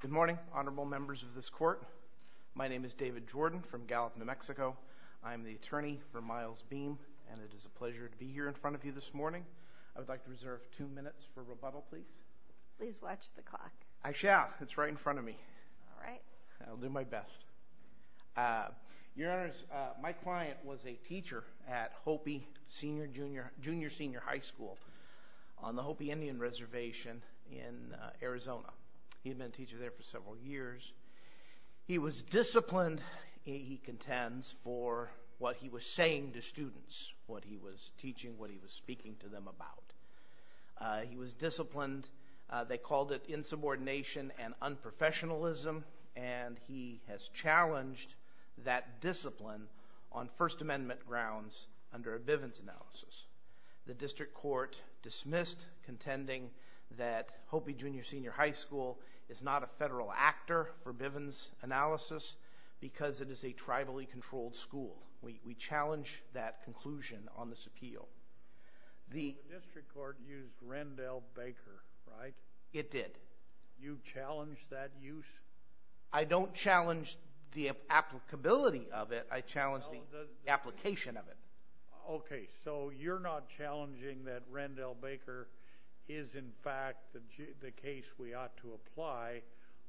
Good morning, honorable members of this court. My name is David Jordan from Gallup, New Mexico. I am the attorney for Miles Beam, and it is a pleasure to be here in front of you this morning. I would like to reserve two minutes for rebuttal, please. Please watch the clock. I shall. It's right in front of me. All right. I'll do my best. Your Honors, my client was a teacher at Hopi Junior Senior High School on the Hopi Indian Reservation in Arizona. He had been a teacher there for several years. He was disciplined, he contends, for what he was saying to students, what he was teaching, what he was speaking to them about. He was disciplined. They called it insubordination and unprofessionalism, and he has challenged that discipline on First Amendment grounds under a Bivens analysis. The district court dismissed contending that Hopi Junior Senior High School is not a federal actor for Bivens analysis because it is a tribally controlled school. We challenge that conclusion on this appeal. The district court used Rendell Baker, right? It did. You challenged that use? I don't challenge the applicability of it. I challenge the application of it. Okay, so you're not challenging that Rendell Baker is, in fact, the case we ought to apply.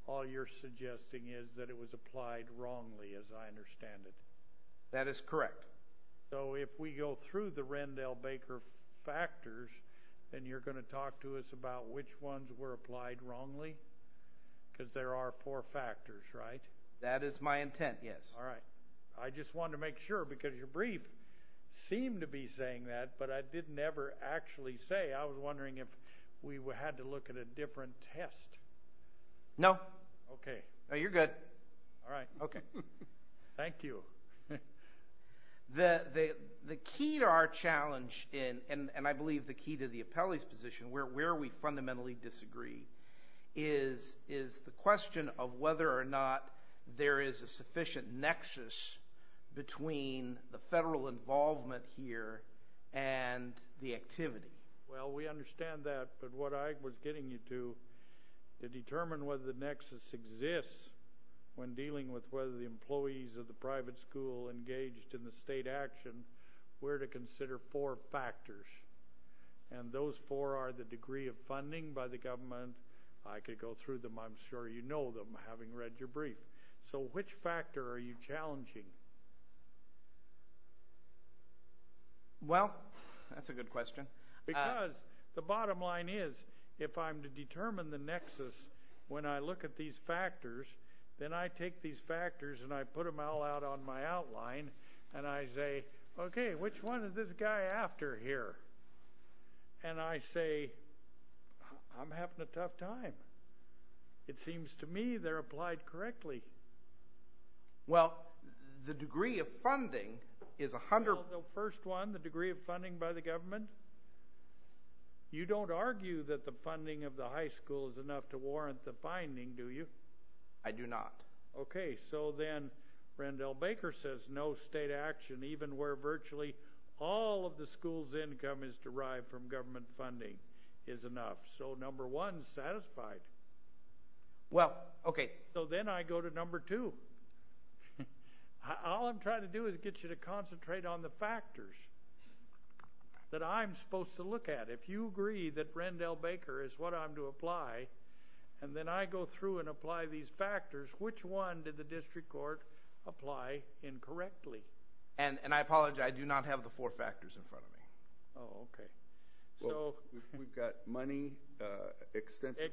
All you're suggesting is that it was applied wrongly, as I understand it. That is correct. So if we go through the Rendell Baker factors, then you're going to talk to us about which ones were applied wrongly because there are four factors, right? That is my intent, yes. All right. I just wanted to make sure because your brief seemed to be saying that, but I didn't ever actually say. I was wondering if we had to look at a different test. No. Okay. No, you're good. All right. Okay. Thank you. The key to our challenge, and I believe the key to the appellee's position where we fundamentally disagree, is the question of whether or not there is a sufficient nexus between the federal involvement here and the activity. Well, we understand that, but what I was getting you to, to determine whether the nexus exists when dealing with whether the employees of the private school engaged in the state action, we're to consider four factors. And those four are the degree of funding by the government. I could go through them. I'm sure you know them having read your brief. So which factor are you challenging? Well, that's a good question. Because the bottom line is if I'm to determine the nexus when I look at these factors, then I take these factors and I put them all out on my outline, and I say, okay, which one is this guy after here? And I say, I'm having a tough time. It seems to me they're applied correctly. Well, the degree of funding is 100 percent. Well, the first one, the degree of funding by the government, you don't argue that the funding of the high school is enough to warrant the finding, do you? I do not. Okay. So then Randall Baker says no state action even where virtually all of the school's income is derived from government funding is enough. So number one is satisfied. Well, okay. So then I go to number two. All I'm trying to do is get you to concentrate on the factors that I'm supposed to look at. If you agree that Randall Baker is what I'm to apply, and then I go through and apply these factors, which one did the district court apply incorrectly? And I apologize. I do not have the four factors in front of me. Oh, okay. So we've got money, extensive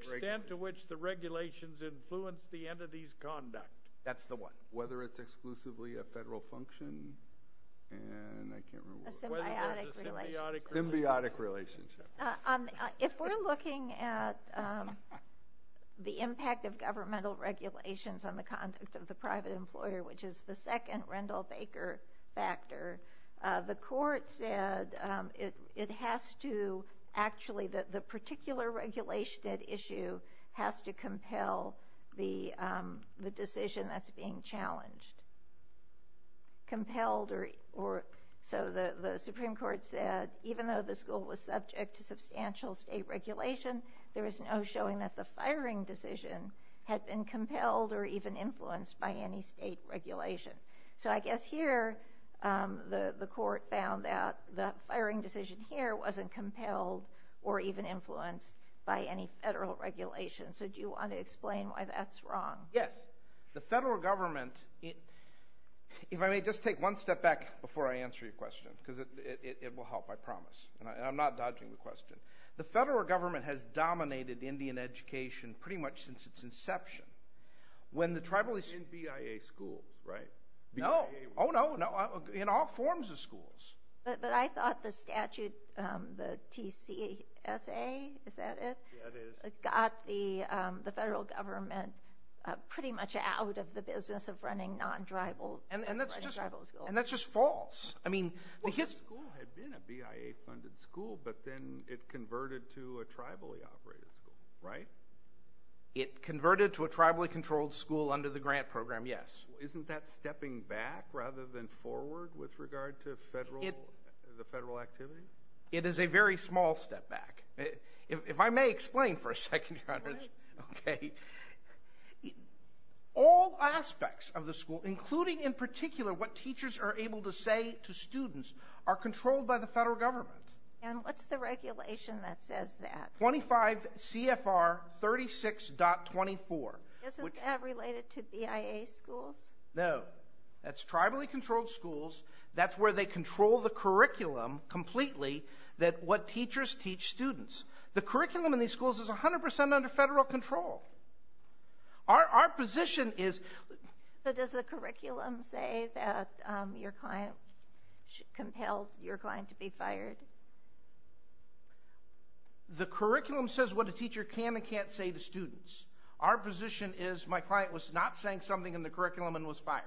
regulations. That's the one. Whether it's exclusively a federal function and I can't remember. A symbiotic relationship. Symbiotic relationship. If we're looking at the impact of governmental regulations on the conduct of the private employer, which is the second Randall Baker factor, the court said it has to actually, the particular regulation at issue has to compel the decision that's being challenged. So the Supreme Court said even though the school was subject to substantial state regulation, there was no showing that the firing decision had been compelled or even influenced by any state regulation. So I guess here the court found that the firing decision here wasn't compelled or even influenced by any federal regulation. So do you want to explain why that's wrong? Yes. The federal government, if I may just take one step back before I answer your question, because it will help, I promise. And I'm not dodging the question. The federal government has dominated Indian education pretty much since its inception. In BIA schools, right? No. Oh, no. In all forms of schools. But I thought the statute, the TCSA, is that it? Yeah, it is. Got the federal government pretty much out of the business of running non-tribal schools. And that's just false. The school had been a BIA-funded school, but then it converted to a tribally-operated school, right? It converted to a tribally-controlled school under the grant program, yes. Isn't that stepping back rather than forward with regard to the federal activity? It is a very small step back. If I may explain for a second, Your Honors. Go ahead. Okay. All aspects of the school, including in particular what teachers are able to say to students, are controlled by the federal government. And what's the regulation that says that? 25 CFR 36.24. Isn't that related to BIA schools? No. That's tribally-controlled schools. That's where they control the curriculum completely, what teachers teach students. The curriculum in these schools is 100% under federal control. Our position is But does the curriculum say that your client compelled your client to be fired? The curriculum says what a teacher can and can't say to students. Our position is my client was not saying something in the curriculum and was fired.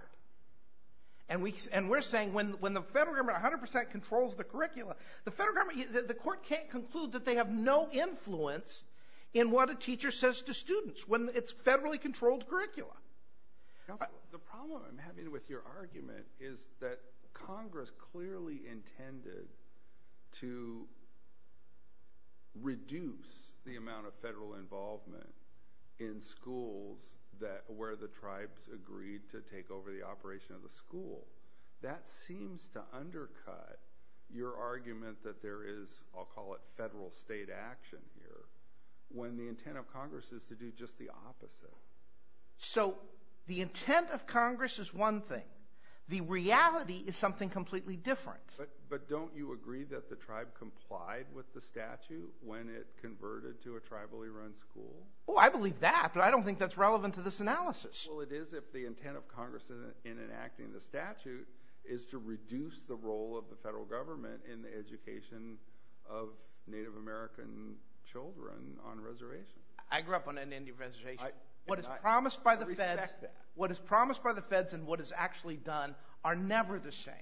And we're saying when the federal government 100% controls the curriculum, the federal government, the court can't conclude that they have no influence in what a teacher says to students when it's federally-controlled curricula. Counselor, the problem I'm having with your argument is that Congress clearly intended to reduce the amount of federal involvement in schools where the tribes agreed to take over the operation of the school. That seems to undercut your argument that there is, I'll call it federal state action here, when the intent of Congress is to do just the opposite. So the intent of Congress is one thing. The reality is something completely different. But don't you agree that the tribe complied with the statute when it converted to a tribally-run school? Oh, I believe that, but I don't think that's relevant to this analysis. Well, it is if the intent of Congress in enacting the statute is to reduce the role of the federal government in the education of Native American children on reservation. I grew up on a Native reservation. What is promised by the feds and what is actually done are never the same.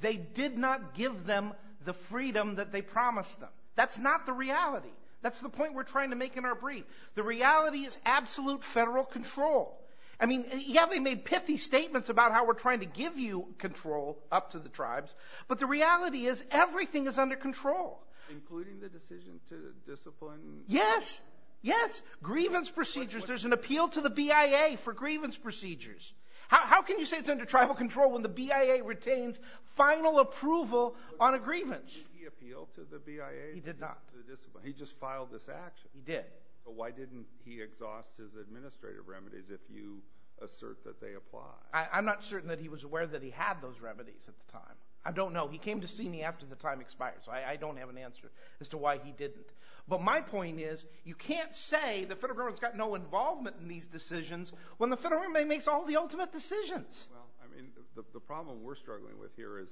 They did not give them the freedom that they promised them. That's not the reality. That's the point we're trying to make in our brief. The reality is absolute federal control. I mean, yeah, they made pithy statements about how we're trying to give you control up to the tribes, but the reality is everything is under control. Including the decision to discipline? Yes, yes. Grievance procedures. There's an appeal to the BIA for grievance procedures. How can you say it's under tribal control when the BIA retains final approval on a grievance? Did he appeal to the BIA? He did not. He just filed this action. He did. Why didn't he exhaust his administrative remedies if you assert that they apply? I'm not certain that he was aware that he had those remedies at the time. I don't know. He came to see me after the time expired, so I don't have an answer as to why he didn't. But my point is you can't say the federal government's got no involvement in these decisions when the federal government makes all the ultimate decisions. The problem we're struggling with here is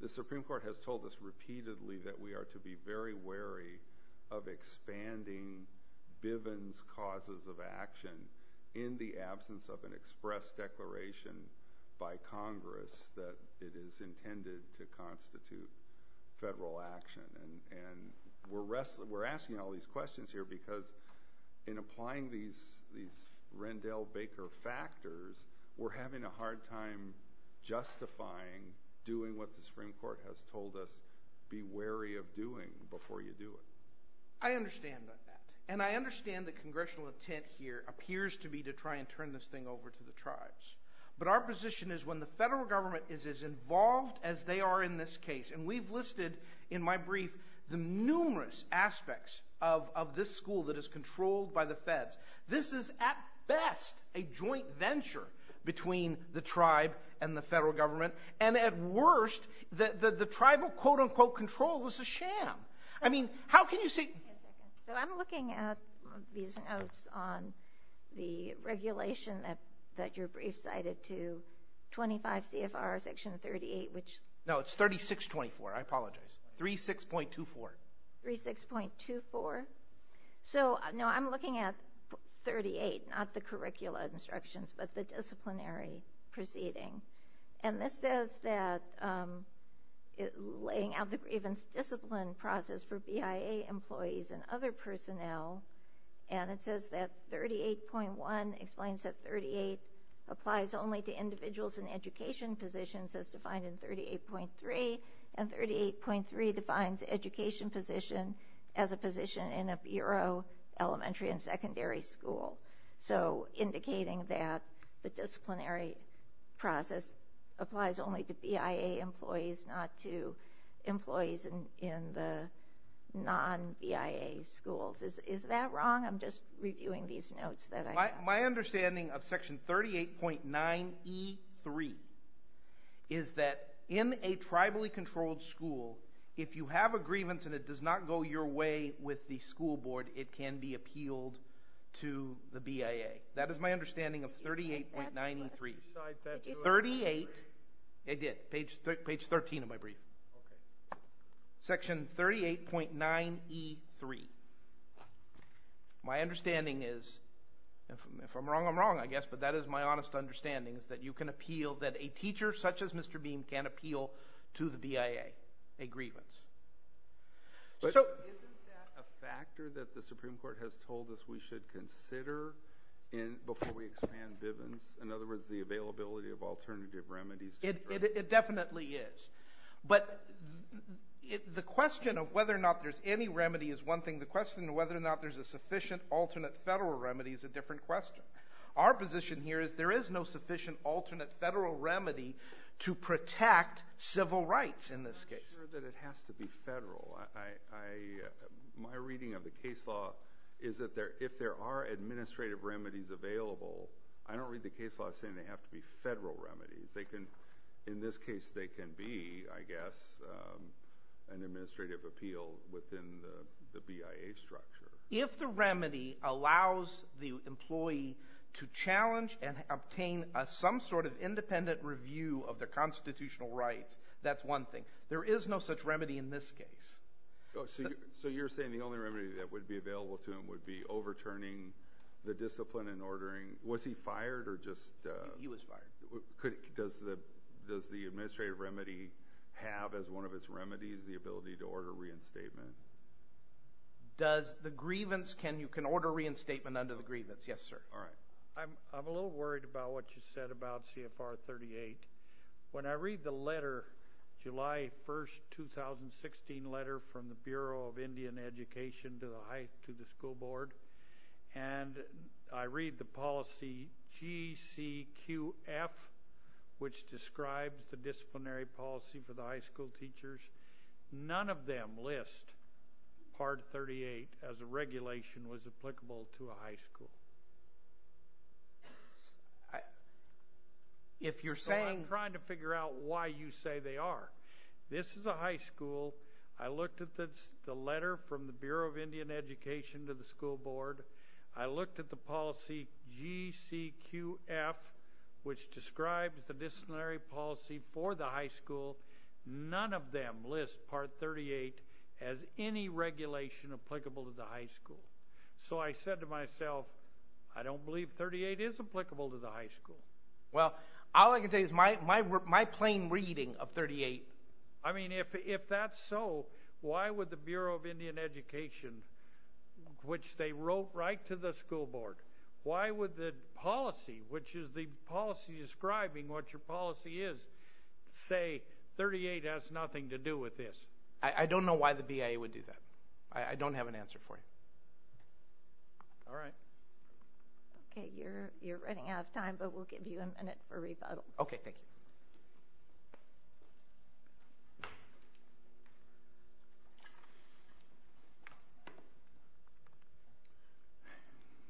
the Supreme Court has told us repeatedly that we are to be very wary of expanding Bivens' causes of action in the absence of an express declaration by Congress that it is intended to constitute federal action. And we're asking all these questions here because in applying these Rendell-Baker factors, we're having a hard time justifying doing what the Supreme Court has told us, be wary of doing before you do it. I understand that. And I understand the congressional intent here appears to be to try and turn this thing over to the tribes. But our position is when the federal government is as involved as they are in this case, and we've listed in my brief the numerous aspects of this school that is controlled by the feds, this is at best a joint venture between the tribe and the federal government. And at worst, the tribal, quote-unquote, control is a sham. I mean, how can you say... So I'm looking at these notes on the regulation that your brief cited to 25 CFR Section 38, which... No, it's 3624. I apologize. 36.24. 36.24? So, no, I'm looking at 38, not the curricula instructions, but the disciplinary proceeding. And this says that laying out the grievance discipline process for BIA employees and other personnel, and it says that 38.1 explains that 38 applies only to individuals in education positions as defined in 38.3, and 38.3 defines education position as a position in a bureau, elementary, and secondary school. So indicating that the disciplinary process applies only to BIA employees, not to employees in the non-BIA schools. Is that wrong? My understanding of Section 38.9E3 is that in a tribally controlled school, if you have a grievance and it does not go your way with the school board, it can be appealed to the BIA. That is my understanding of 38.9E3. Did you cite that? 38. I did. Page 13 of my brief. Section 38.9E3. My understanding is, if I'm wrong, I'm wrong, I guess, but that is my honest understanding, is that you can appeal, that a teacher such as Mr. Beam can appeal to the BIA a grievance. Isn't that a factor that the Supreme Court has told us we should consider before we expand Bivens? In other words, the availability of alternative remedies. It definitely is. But the question of whether or not there's any remedy is one thing. The question of whether or not there's a sufficient alternate federal remedy is a different question. Our position here is there is no sufficient alternate federal remedy to protect civil rights in this case. I'm not sure that it has to be federal. My reading of the case law is that if there are administrative remedies available, I don't read the case law as saying they have to be federal remedies. In this case, they can be, I guess, an administrative appeal within the BIA structure. If the remedy allows the employee to challenge and obtain some sort of independent review of their constitutional rights, that's one thing. There is no such remedy in this case. So you're saying the only remedy that would be available to him would be overturning the discipline and ordering. Was he fired or just – He was fired. Does the administrative remedy have as one of its remedies the ability to order reinstatement? Does the grievance – can you order reinstatement under the grievance? Yes, sir. All right. I'm a little worried about what you said about CFR 38. When I read the letter, July 1, 2016 letter from the Bureau of Indian Education to the school board, and I read the policy GCQF, which describes the disciplinary policy for the high school teachers, none of them list Part 38 as a regulation was applicable to a high school. If you're saying – So I'm trying to figure out why you say they are. This is a high school. I looked at the letter from the Bureau of Indian Education to the school board. I looked at the policy GCQF, which describes the disciplinary policy for the high school. None of them list Part 38 as any regulation applicable to the high school. So I said to myself, I don't believe 38 is applicable to the high school. Well, all I can tell you is my plain reading of 38. I mean, if that's so, why would the Bureau of Indian Education, which they wrote right to the school board, why would the policy, which is the policy describing what your policy is, say 38 has nothing to do with this? I don't know why the BIA would do that. I don't have an answer for you. All right. Okay, you're running out of time, but we'll give you a minute for rebuttal. Okay, thank you.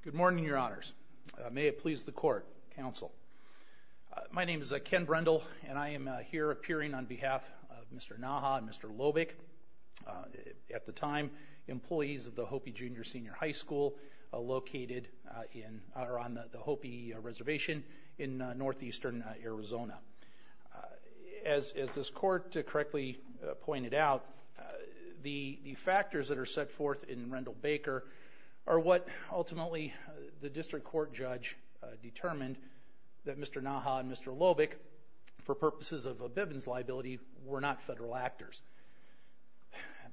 Good morning, Your Honors. May it please the Court, Counsel. My name is Ken Brendel, and I am here appearing on behalf of Mr. Naha and Mr. Loebick, at the time, of the Hopi Junior Senior High School, located on the Hopi Reservation in northeastern Arizona. As this Court correctly pointed out, the factors that are set forth in Brendel-Baker are what ultimately the district court judge determined that Mr. Naha and Mr. Loebick, for purposes of a Bivens liability, were not federal actors.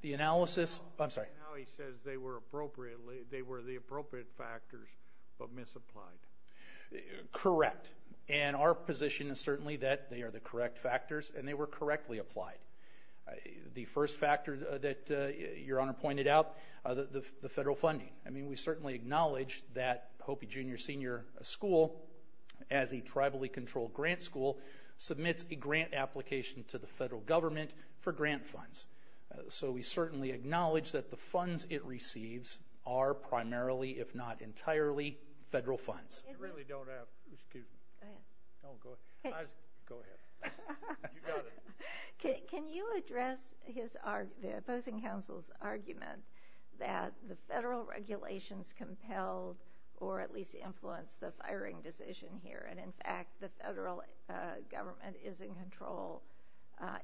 The analysis, I'm sorry. Now he says they were the appropriate factors, but misapplied. Correct. And our position is certainly that they are the correct factors, and they were correctly applied. The first factor that Your Honor pointed out, the federal funding. I mean, we certainly acknowledge that Hopi Junior Senior School, as a tribally controlled grant school, submits a grant application to the federal government for grant funds. So we certainly acknowledge that the funds it receives are primarily, if not entirely, federal funds. I really don't have, excuse me. Go ahead. Go ahead. You got it. Can you address the opposing counsel's argument that the federal regulations compelled or at least influenced the firing decision here? And, in fact, the federal government is in control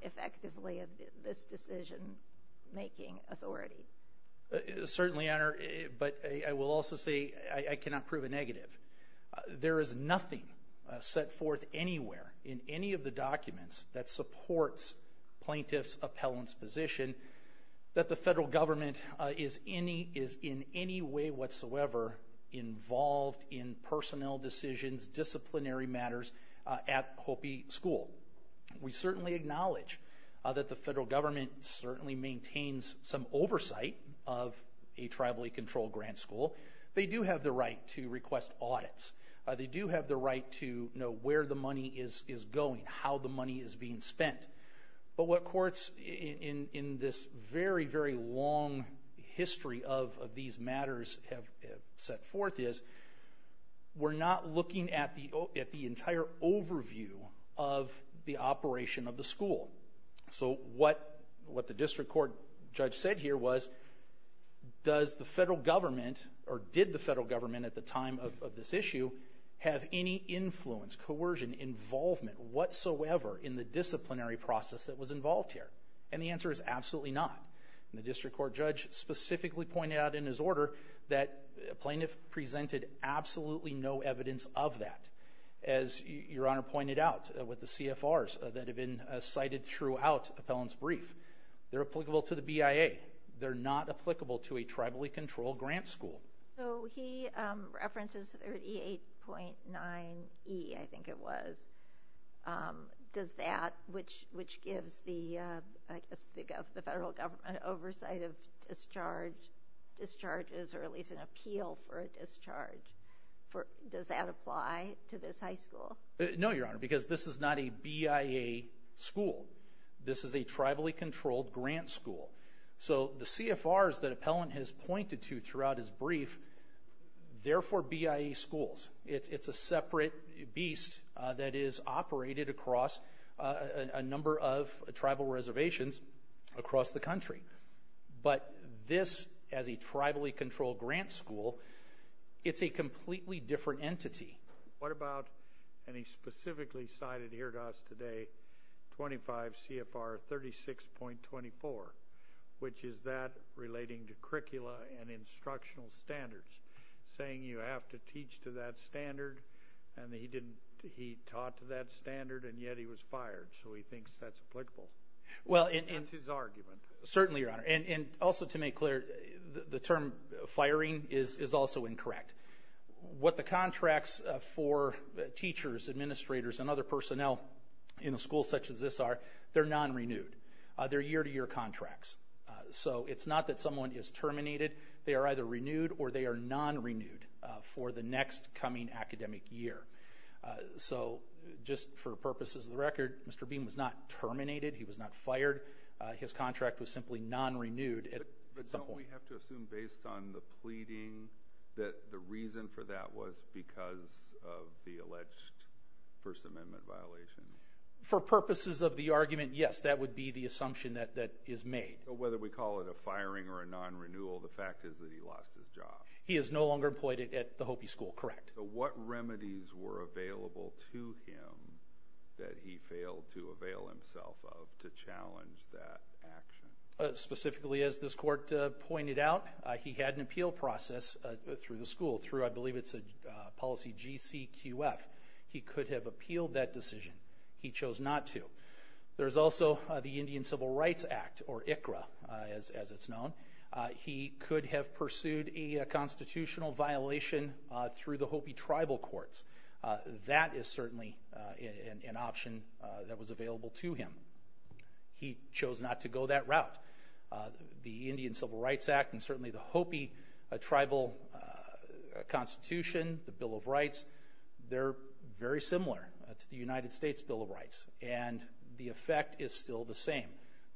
effectively of this decision-making authority. Certainly, Your Honor. But I will also say I cannot prove a negative. There is nothing set forth anywhere in any of the documents that supports plaintiff's appellant's position that the federal government is in any way whatsoever involved in personnel decisions, disciplinary matters, at Hopi School. We certainly acknowledge that the federal government certainly maintains some oversight of a tribally controlled grant school. They do have the right to request audits. They do have the right to know where the money is going, how the money is being spent. But what courts in this very, very long history of these matters have set forth is we're not looking at the entire overview of the operation of the school. So what the district court judge said here was, does the federal government, or did the federal government at the time of this issue, have any influence, coercion, involvement whatsoever in the disciplinary process that was involved here? And the answer is absolutely not. And the district court judge specifically pointed out in his order that plaintiff presented absolutely no evidence of that. As Your Honor pointed out with the CFRs that have been cited throughout appellant's brief, they're applicable to the BIA. They're not applicable to a tribally controlled grant school. So he references 38.9E, I think it was, which gives the federal government oversight of discharges or at least an appeal for a discharge. Does that apply to this high school? No, Your Honor, because this is not a BIA school. This is a tribally controlled grant school. So the CFRs that appellant has pointed to throughout his brief, they're for BIA schools. It's a separate beast that is operated across a number of tribal reservations across the country. But this, as a tribally controlled grant school, it's a completely different entity. What about, and he specifically cited here to us today, 25 CFR 36.24, which is that relating to curricula and instructional standards, saying you have to teach to that standard, and he taught to that standard, and yet he was fired. So he thinks that's applicable. That's his argument. Certainly, Your Honor. And also to make clear, the term firing is also incorrect. What the contracts for teachers, administrators, and other personnel in a school such as this are, they're non-renewed. They're year-to-year contracts. So it's not that someone is terminated. They are either renewed or they are non-renewed for the next coming academic year. So just for purposes of the record, Mr. Beam was not terminated. He was not fired. His contract was simply non-renewed at some point. Don't we have to assume based on the pleading that the reason for that was because of the alleged First Amendment violation? For purposes of the argument, yes, that would be the assumption that is made. So whether we call it a firing or a non-renewal, the fact is that he lost his job. He is no longer employed at the Hopi School, correct. So what remedies were available to him that he failed to avail himself of to challenge that action? Specifically, as this court pointed out, he had an appeal process through the school, through I believe it's a policy GCQF. He could have appealed that decision. He chose not to. There's also the Indian Civil Rights Act, or ICRA as it's known. He could have pursued a constitutional violation through the Hopi tribal courts. That is certainly an option that was available to him. He chose not to go that route. The Indian Civil Rights Act and certainly the Hopi tribal constitution, the Bill of Rights, they're very similar to the United States Bill of Rights, and the effect is still the same.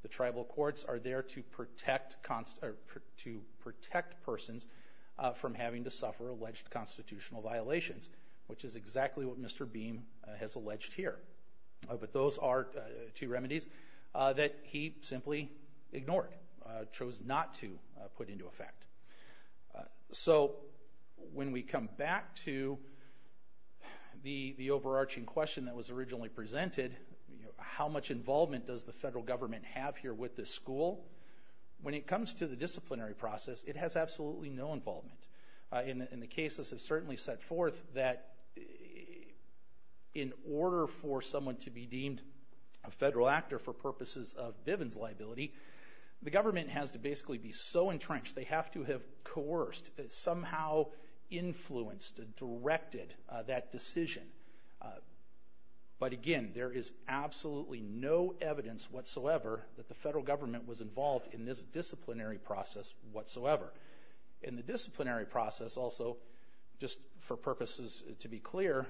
The tribal courts are there to protect persons from having to suffer alleged constitutional violations, which is exactly what Mr. Beam has alleged here. But those are two remedies that he simply ignored, chose not to put into effect. So when we come back to the overarching question that was originally presented, how much involvement does the federal government have here with this school, when it comes to the disciplinary process, it has absolutely no involvement. And the cases have certainly set forth that in order for someone to be deemed a federal actor for purposes of Bivens liability, the government has to basically be so entrenched, they have to have coerced, somehow influenced and directed that decision. But, again, there is absolutely no evidence whatsoever that the federal government was involved in this disciplinary process whatsoever. In the disciplinary process also, just for purposes to be clear,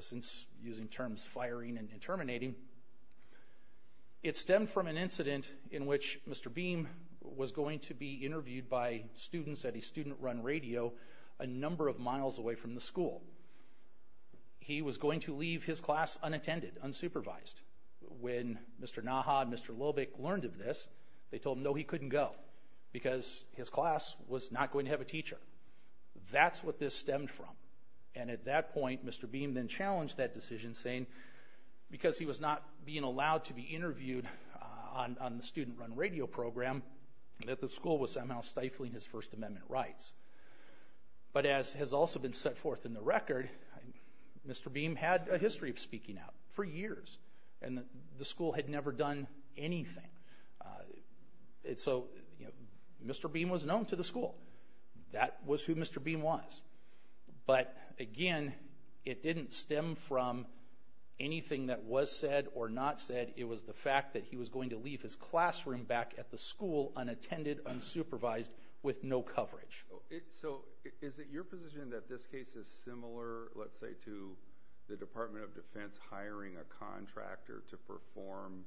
since using terms firing and terminating, it stemmed from an incident in which Mr. Beam was going to be interviewed by students at a student-run radio a number of miles away from the school. He was going to leave his class unattended, unsupervised. When Mr. Naha and Mr. Lobick learned of this, they told him, no, he couldn't go, because his class was not going to have a teacher. That's what this stemmed from. And at that point, Mr. Beam then challenged that decision, saying, because he was not being allowed to be interviewed on the student-run radio program, that the school was somehow stifling his First Amendment rights. But as has also been set forth in the record, Mr. Beam had a history of speaking out for years, and the school had never done anything. So Mr. Beam was known to the school. That was who Mr. Beam was. But, again, it didn't stem from anything that was said or not said. It was the fact that he was going to leave his classroom back at the school unattended, unsupervised, with no coverage. So is it your position that this case is similar, let's say, to the Department of Defense hiring a contractor to perform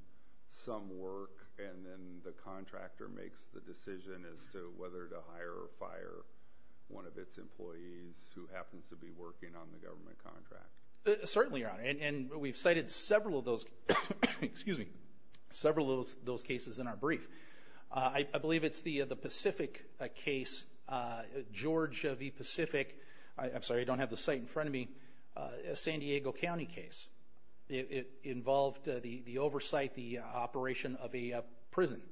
some work, and then the contractor makes the decision as to whether to hire or fire one of its employees who happens to be working on the government contract? Certainly, Your Honor. And we've cited several of those cases in our brief. I believe it's the Pacific case, Georgia v. Pacific. I'm sorry, I don't have the site in front of me. A San Diego County case. It involved the oversight, the operation of a prison.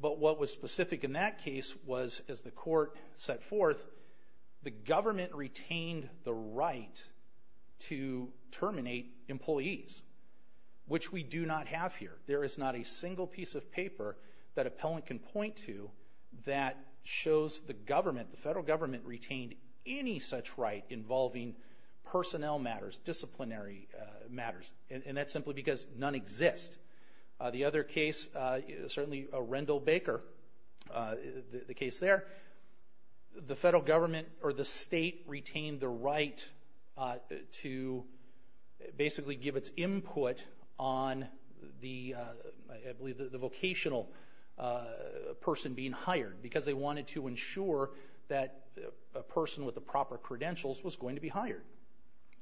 But what was specific in that case was, as the court set forth, the government retained the right to terminate employees, which we do not have here. There is not a single piece of paper that an appellant can point to that shows the government, the federal government, retained any such right involving personnel matters, disciplinary matters. And that's simply because none exist. The other case, certainly Rendell Baker, the case there, the federal government or the state retained the right to basically give its input on the, I believe, the vocational person being hired, because they wanted to ensure that a person with the proper credentials was going to be hired.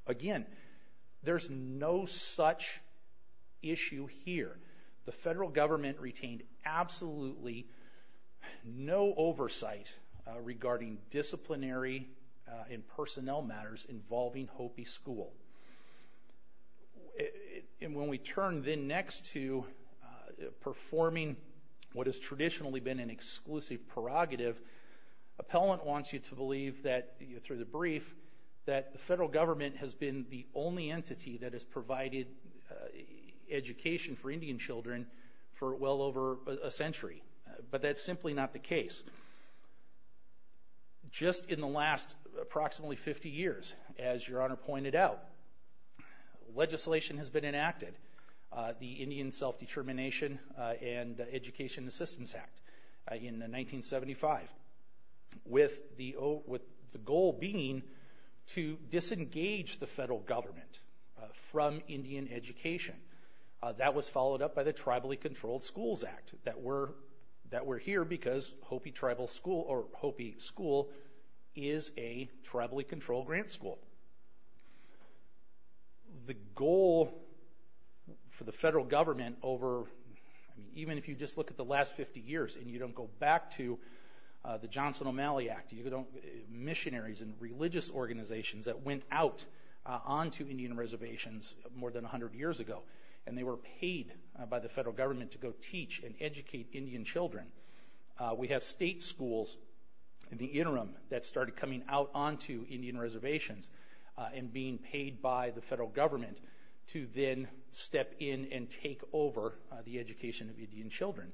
Again, there's no such issue here. The federal government retained absolutely no oversight regarding disciplinary and personnel matters involving Hopi School. And when we turn then next to performing what has traditionally been an exclusive prerogative, appellant wants you to believe that, through the brief, that the federal government has been the only entity that has provided education for Indian children for well over a century. But that's simply not the case. Just in the last approximately 50 years, as Your Honor pointed out, legislation has been enacted, the Indian Self-Determination and Education Assistance Act in 1975, with the goal being to disengage the federal government from Indian education. That was followed up by the Tribally Controlled Schools Act, that we're here because Hopi School is a tribally controlled grant school. The goal for the federal government over, I mean, even if you just look at the last 50 years and you don't go back to the Johnson O'Malley Act, missionaries and religious organizations that went out onto Indian reservations more than 100 years ago, and they were paid by the federal government to go teach and educate Indian children. We have state schools in the interim that started coming out onto Indian reservations and being paid by the federal government to then step in and take over the education of Indian children.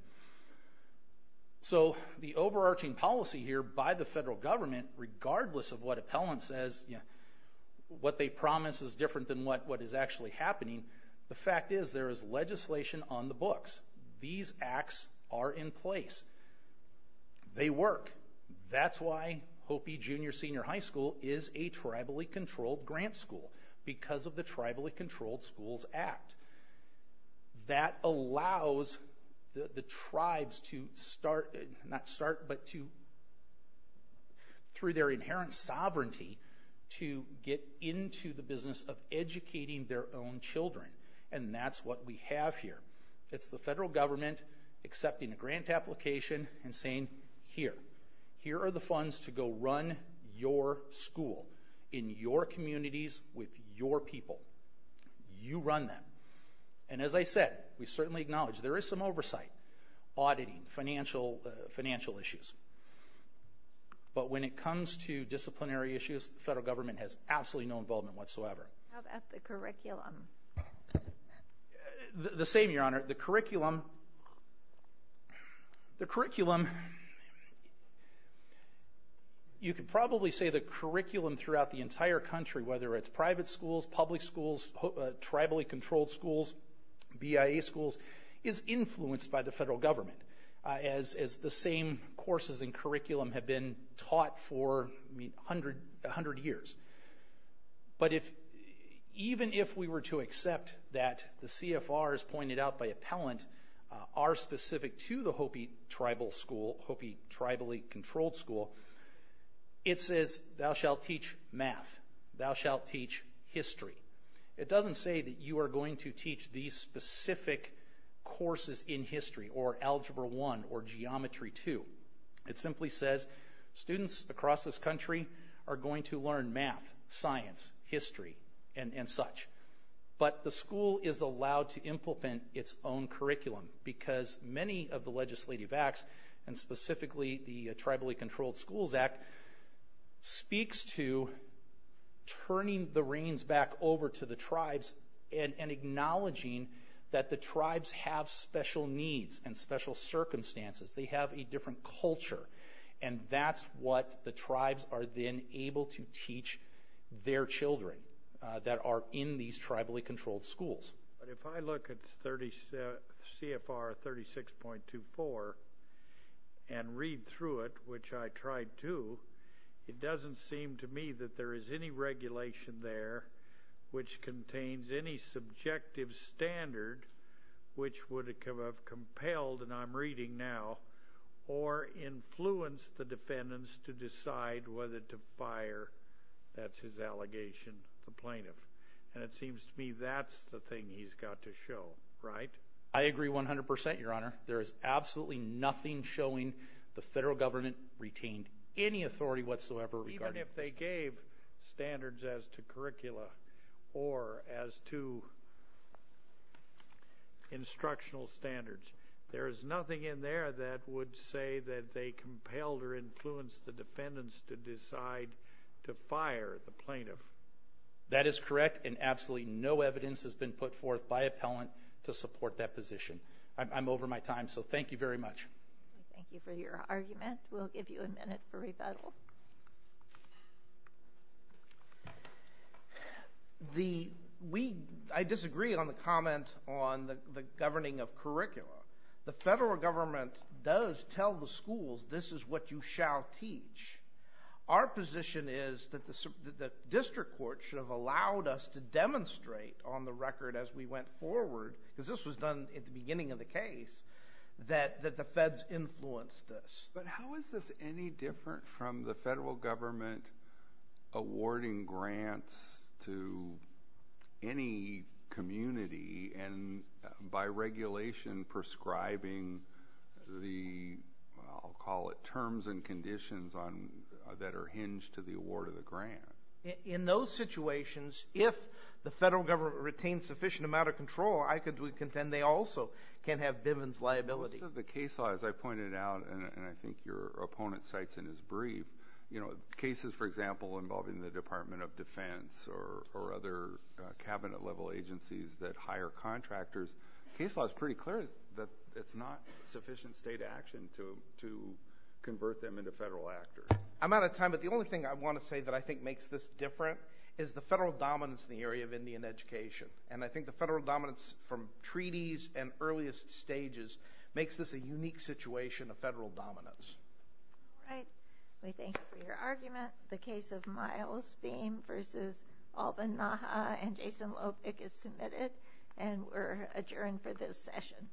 So the overarching policy here by the federal government, regardless of what appellant says, what they promise is different than what is actually happening, the fact is there is legislation on the books. These acts are in place. They work. That's why Hopi Junior Senior High School is a tribally controlled grant school, because of the Tribally Controlled Schools Act. That allows the tribes to start, not start, but to, through their inherent sovereignty, to get into the business of educating their own children, and that's what we have here. It's the federal government accepting a grant application and saying, here, here are the funds to go run your school in your communities with your people. You run them. And as I said, we certainly acknowledge there is some oversight, auditing, financial issues. But when it comes to disciplinary issues, the federal government has absolutely no involvement whatsoever. How about the curriculum? The same, Your Honor. The curriculum, the curriculum, you could probably say the curriculum throughout the entire country, whether it's private schools, public schools, tribally controlled schools, BIA schools, is influenced by the federal government, as the same courses and curriculum have been taught for 100 years. But even if we were to accept that the CFRs pointed out by appellant are specific to the Hopi Tribal School, Hopi Tribally Controlled School, it says, thou shalt teach math. Thou shalt teach history. It doesn't say that you are going to teach these specific courses in history or Algebra I or Geometry II. It simply says students across this country are going to learn math, science, history, and such. But the school is allowed to implement its own curriculum because many of the legislative acts, and specifically the Tribally Controlled Schools Act, speaks to turning the reins back over to the tribes and acknowledging that the tribes have special needs and special circumstances. They have a different culture, and that's what the tribes are then able to teach their children that are in these tribally controlled schools. If I look at CFR 36.24 and read through it, which I tried to, it doesn't seem to me that there is any regulation there which contains any subjective standard which would have compelled, and I'm reading now, or influenced the defendants to decide whether to fire, that's his allegation, the plaintiff. And it seems to me that's the thing he's got to show, right? I agree 100%, Your Honor. There is absolutely nothing showing the federal government retained any authority whatsoever regarding this. Even if they gave standards as to curricula or as to instructional standards, there is nothing in there that would say that they compelled or influenced the defendants to decide to fire the plaintiff. That is correct, and absolutely no evidence has been put forth by appellant to support that position. I'm over my time, so thank you very much. Thank you for your argument. We'll give you a minute for rebuttal. I disagree on the comment on the governing of curricula. The federal government does tell the schools this is what you shall teach. Our position is that the district court should have allowed us to demonstrate on the record as we went forward, because this was done at the beginning of the case, that the feds influenced this. But how is this any different from the federal government awarding grants to any community and by regulation prescribing the, I'll call it, terms and conditions that are hinged to the award of the grant? In those situations, if the federal government retained sufficient amount of control, I could contend they also can have Bivens liability. Most of the cases, as I pointed out, and I think your opponent cites in his brief, cases, for example, involving the Department of Defense or other cabinet-level agencies that hire contractors, case law is pretty clear that it's not sufficient state action to convert them into federal actors. I'm out of time, but the only thing I want to say that I think makes this different is the federal dominance in the area of Indian education. And I think the federal dominance from treaties and earliest stages makes this a unique situation of federal dominance. All right. We thank you for your argument. The case of Miles Beam v. Alban Naha and Jason Lopik is submitted and we're adjourned for this session.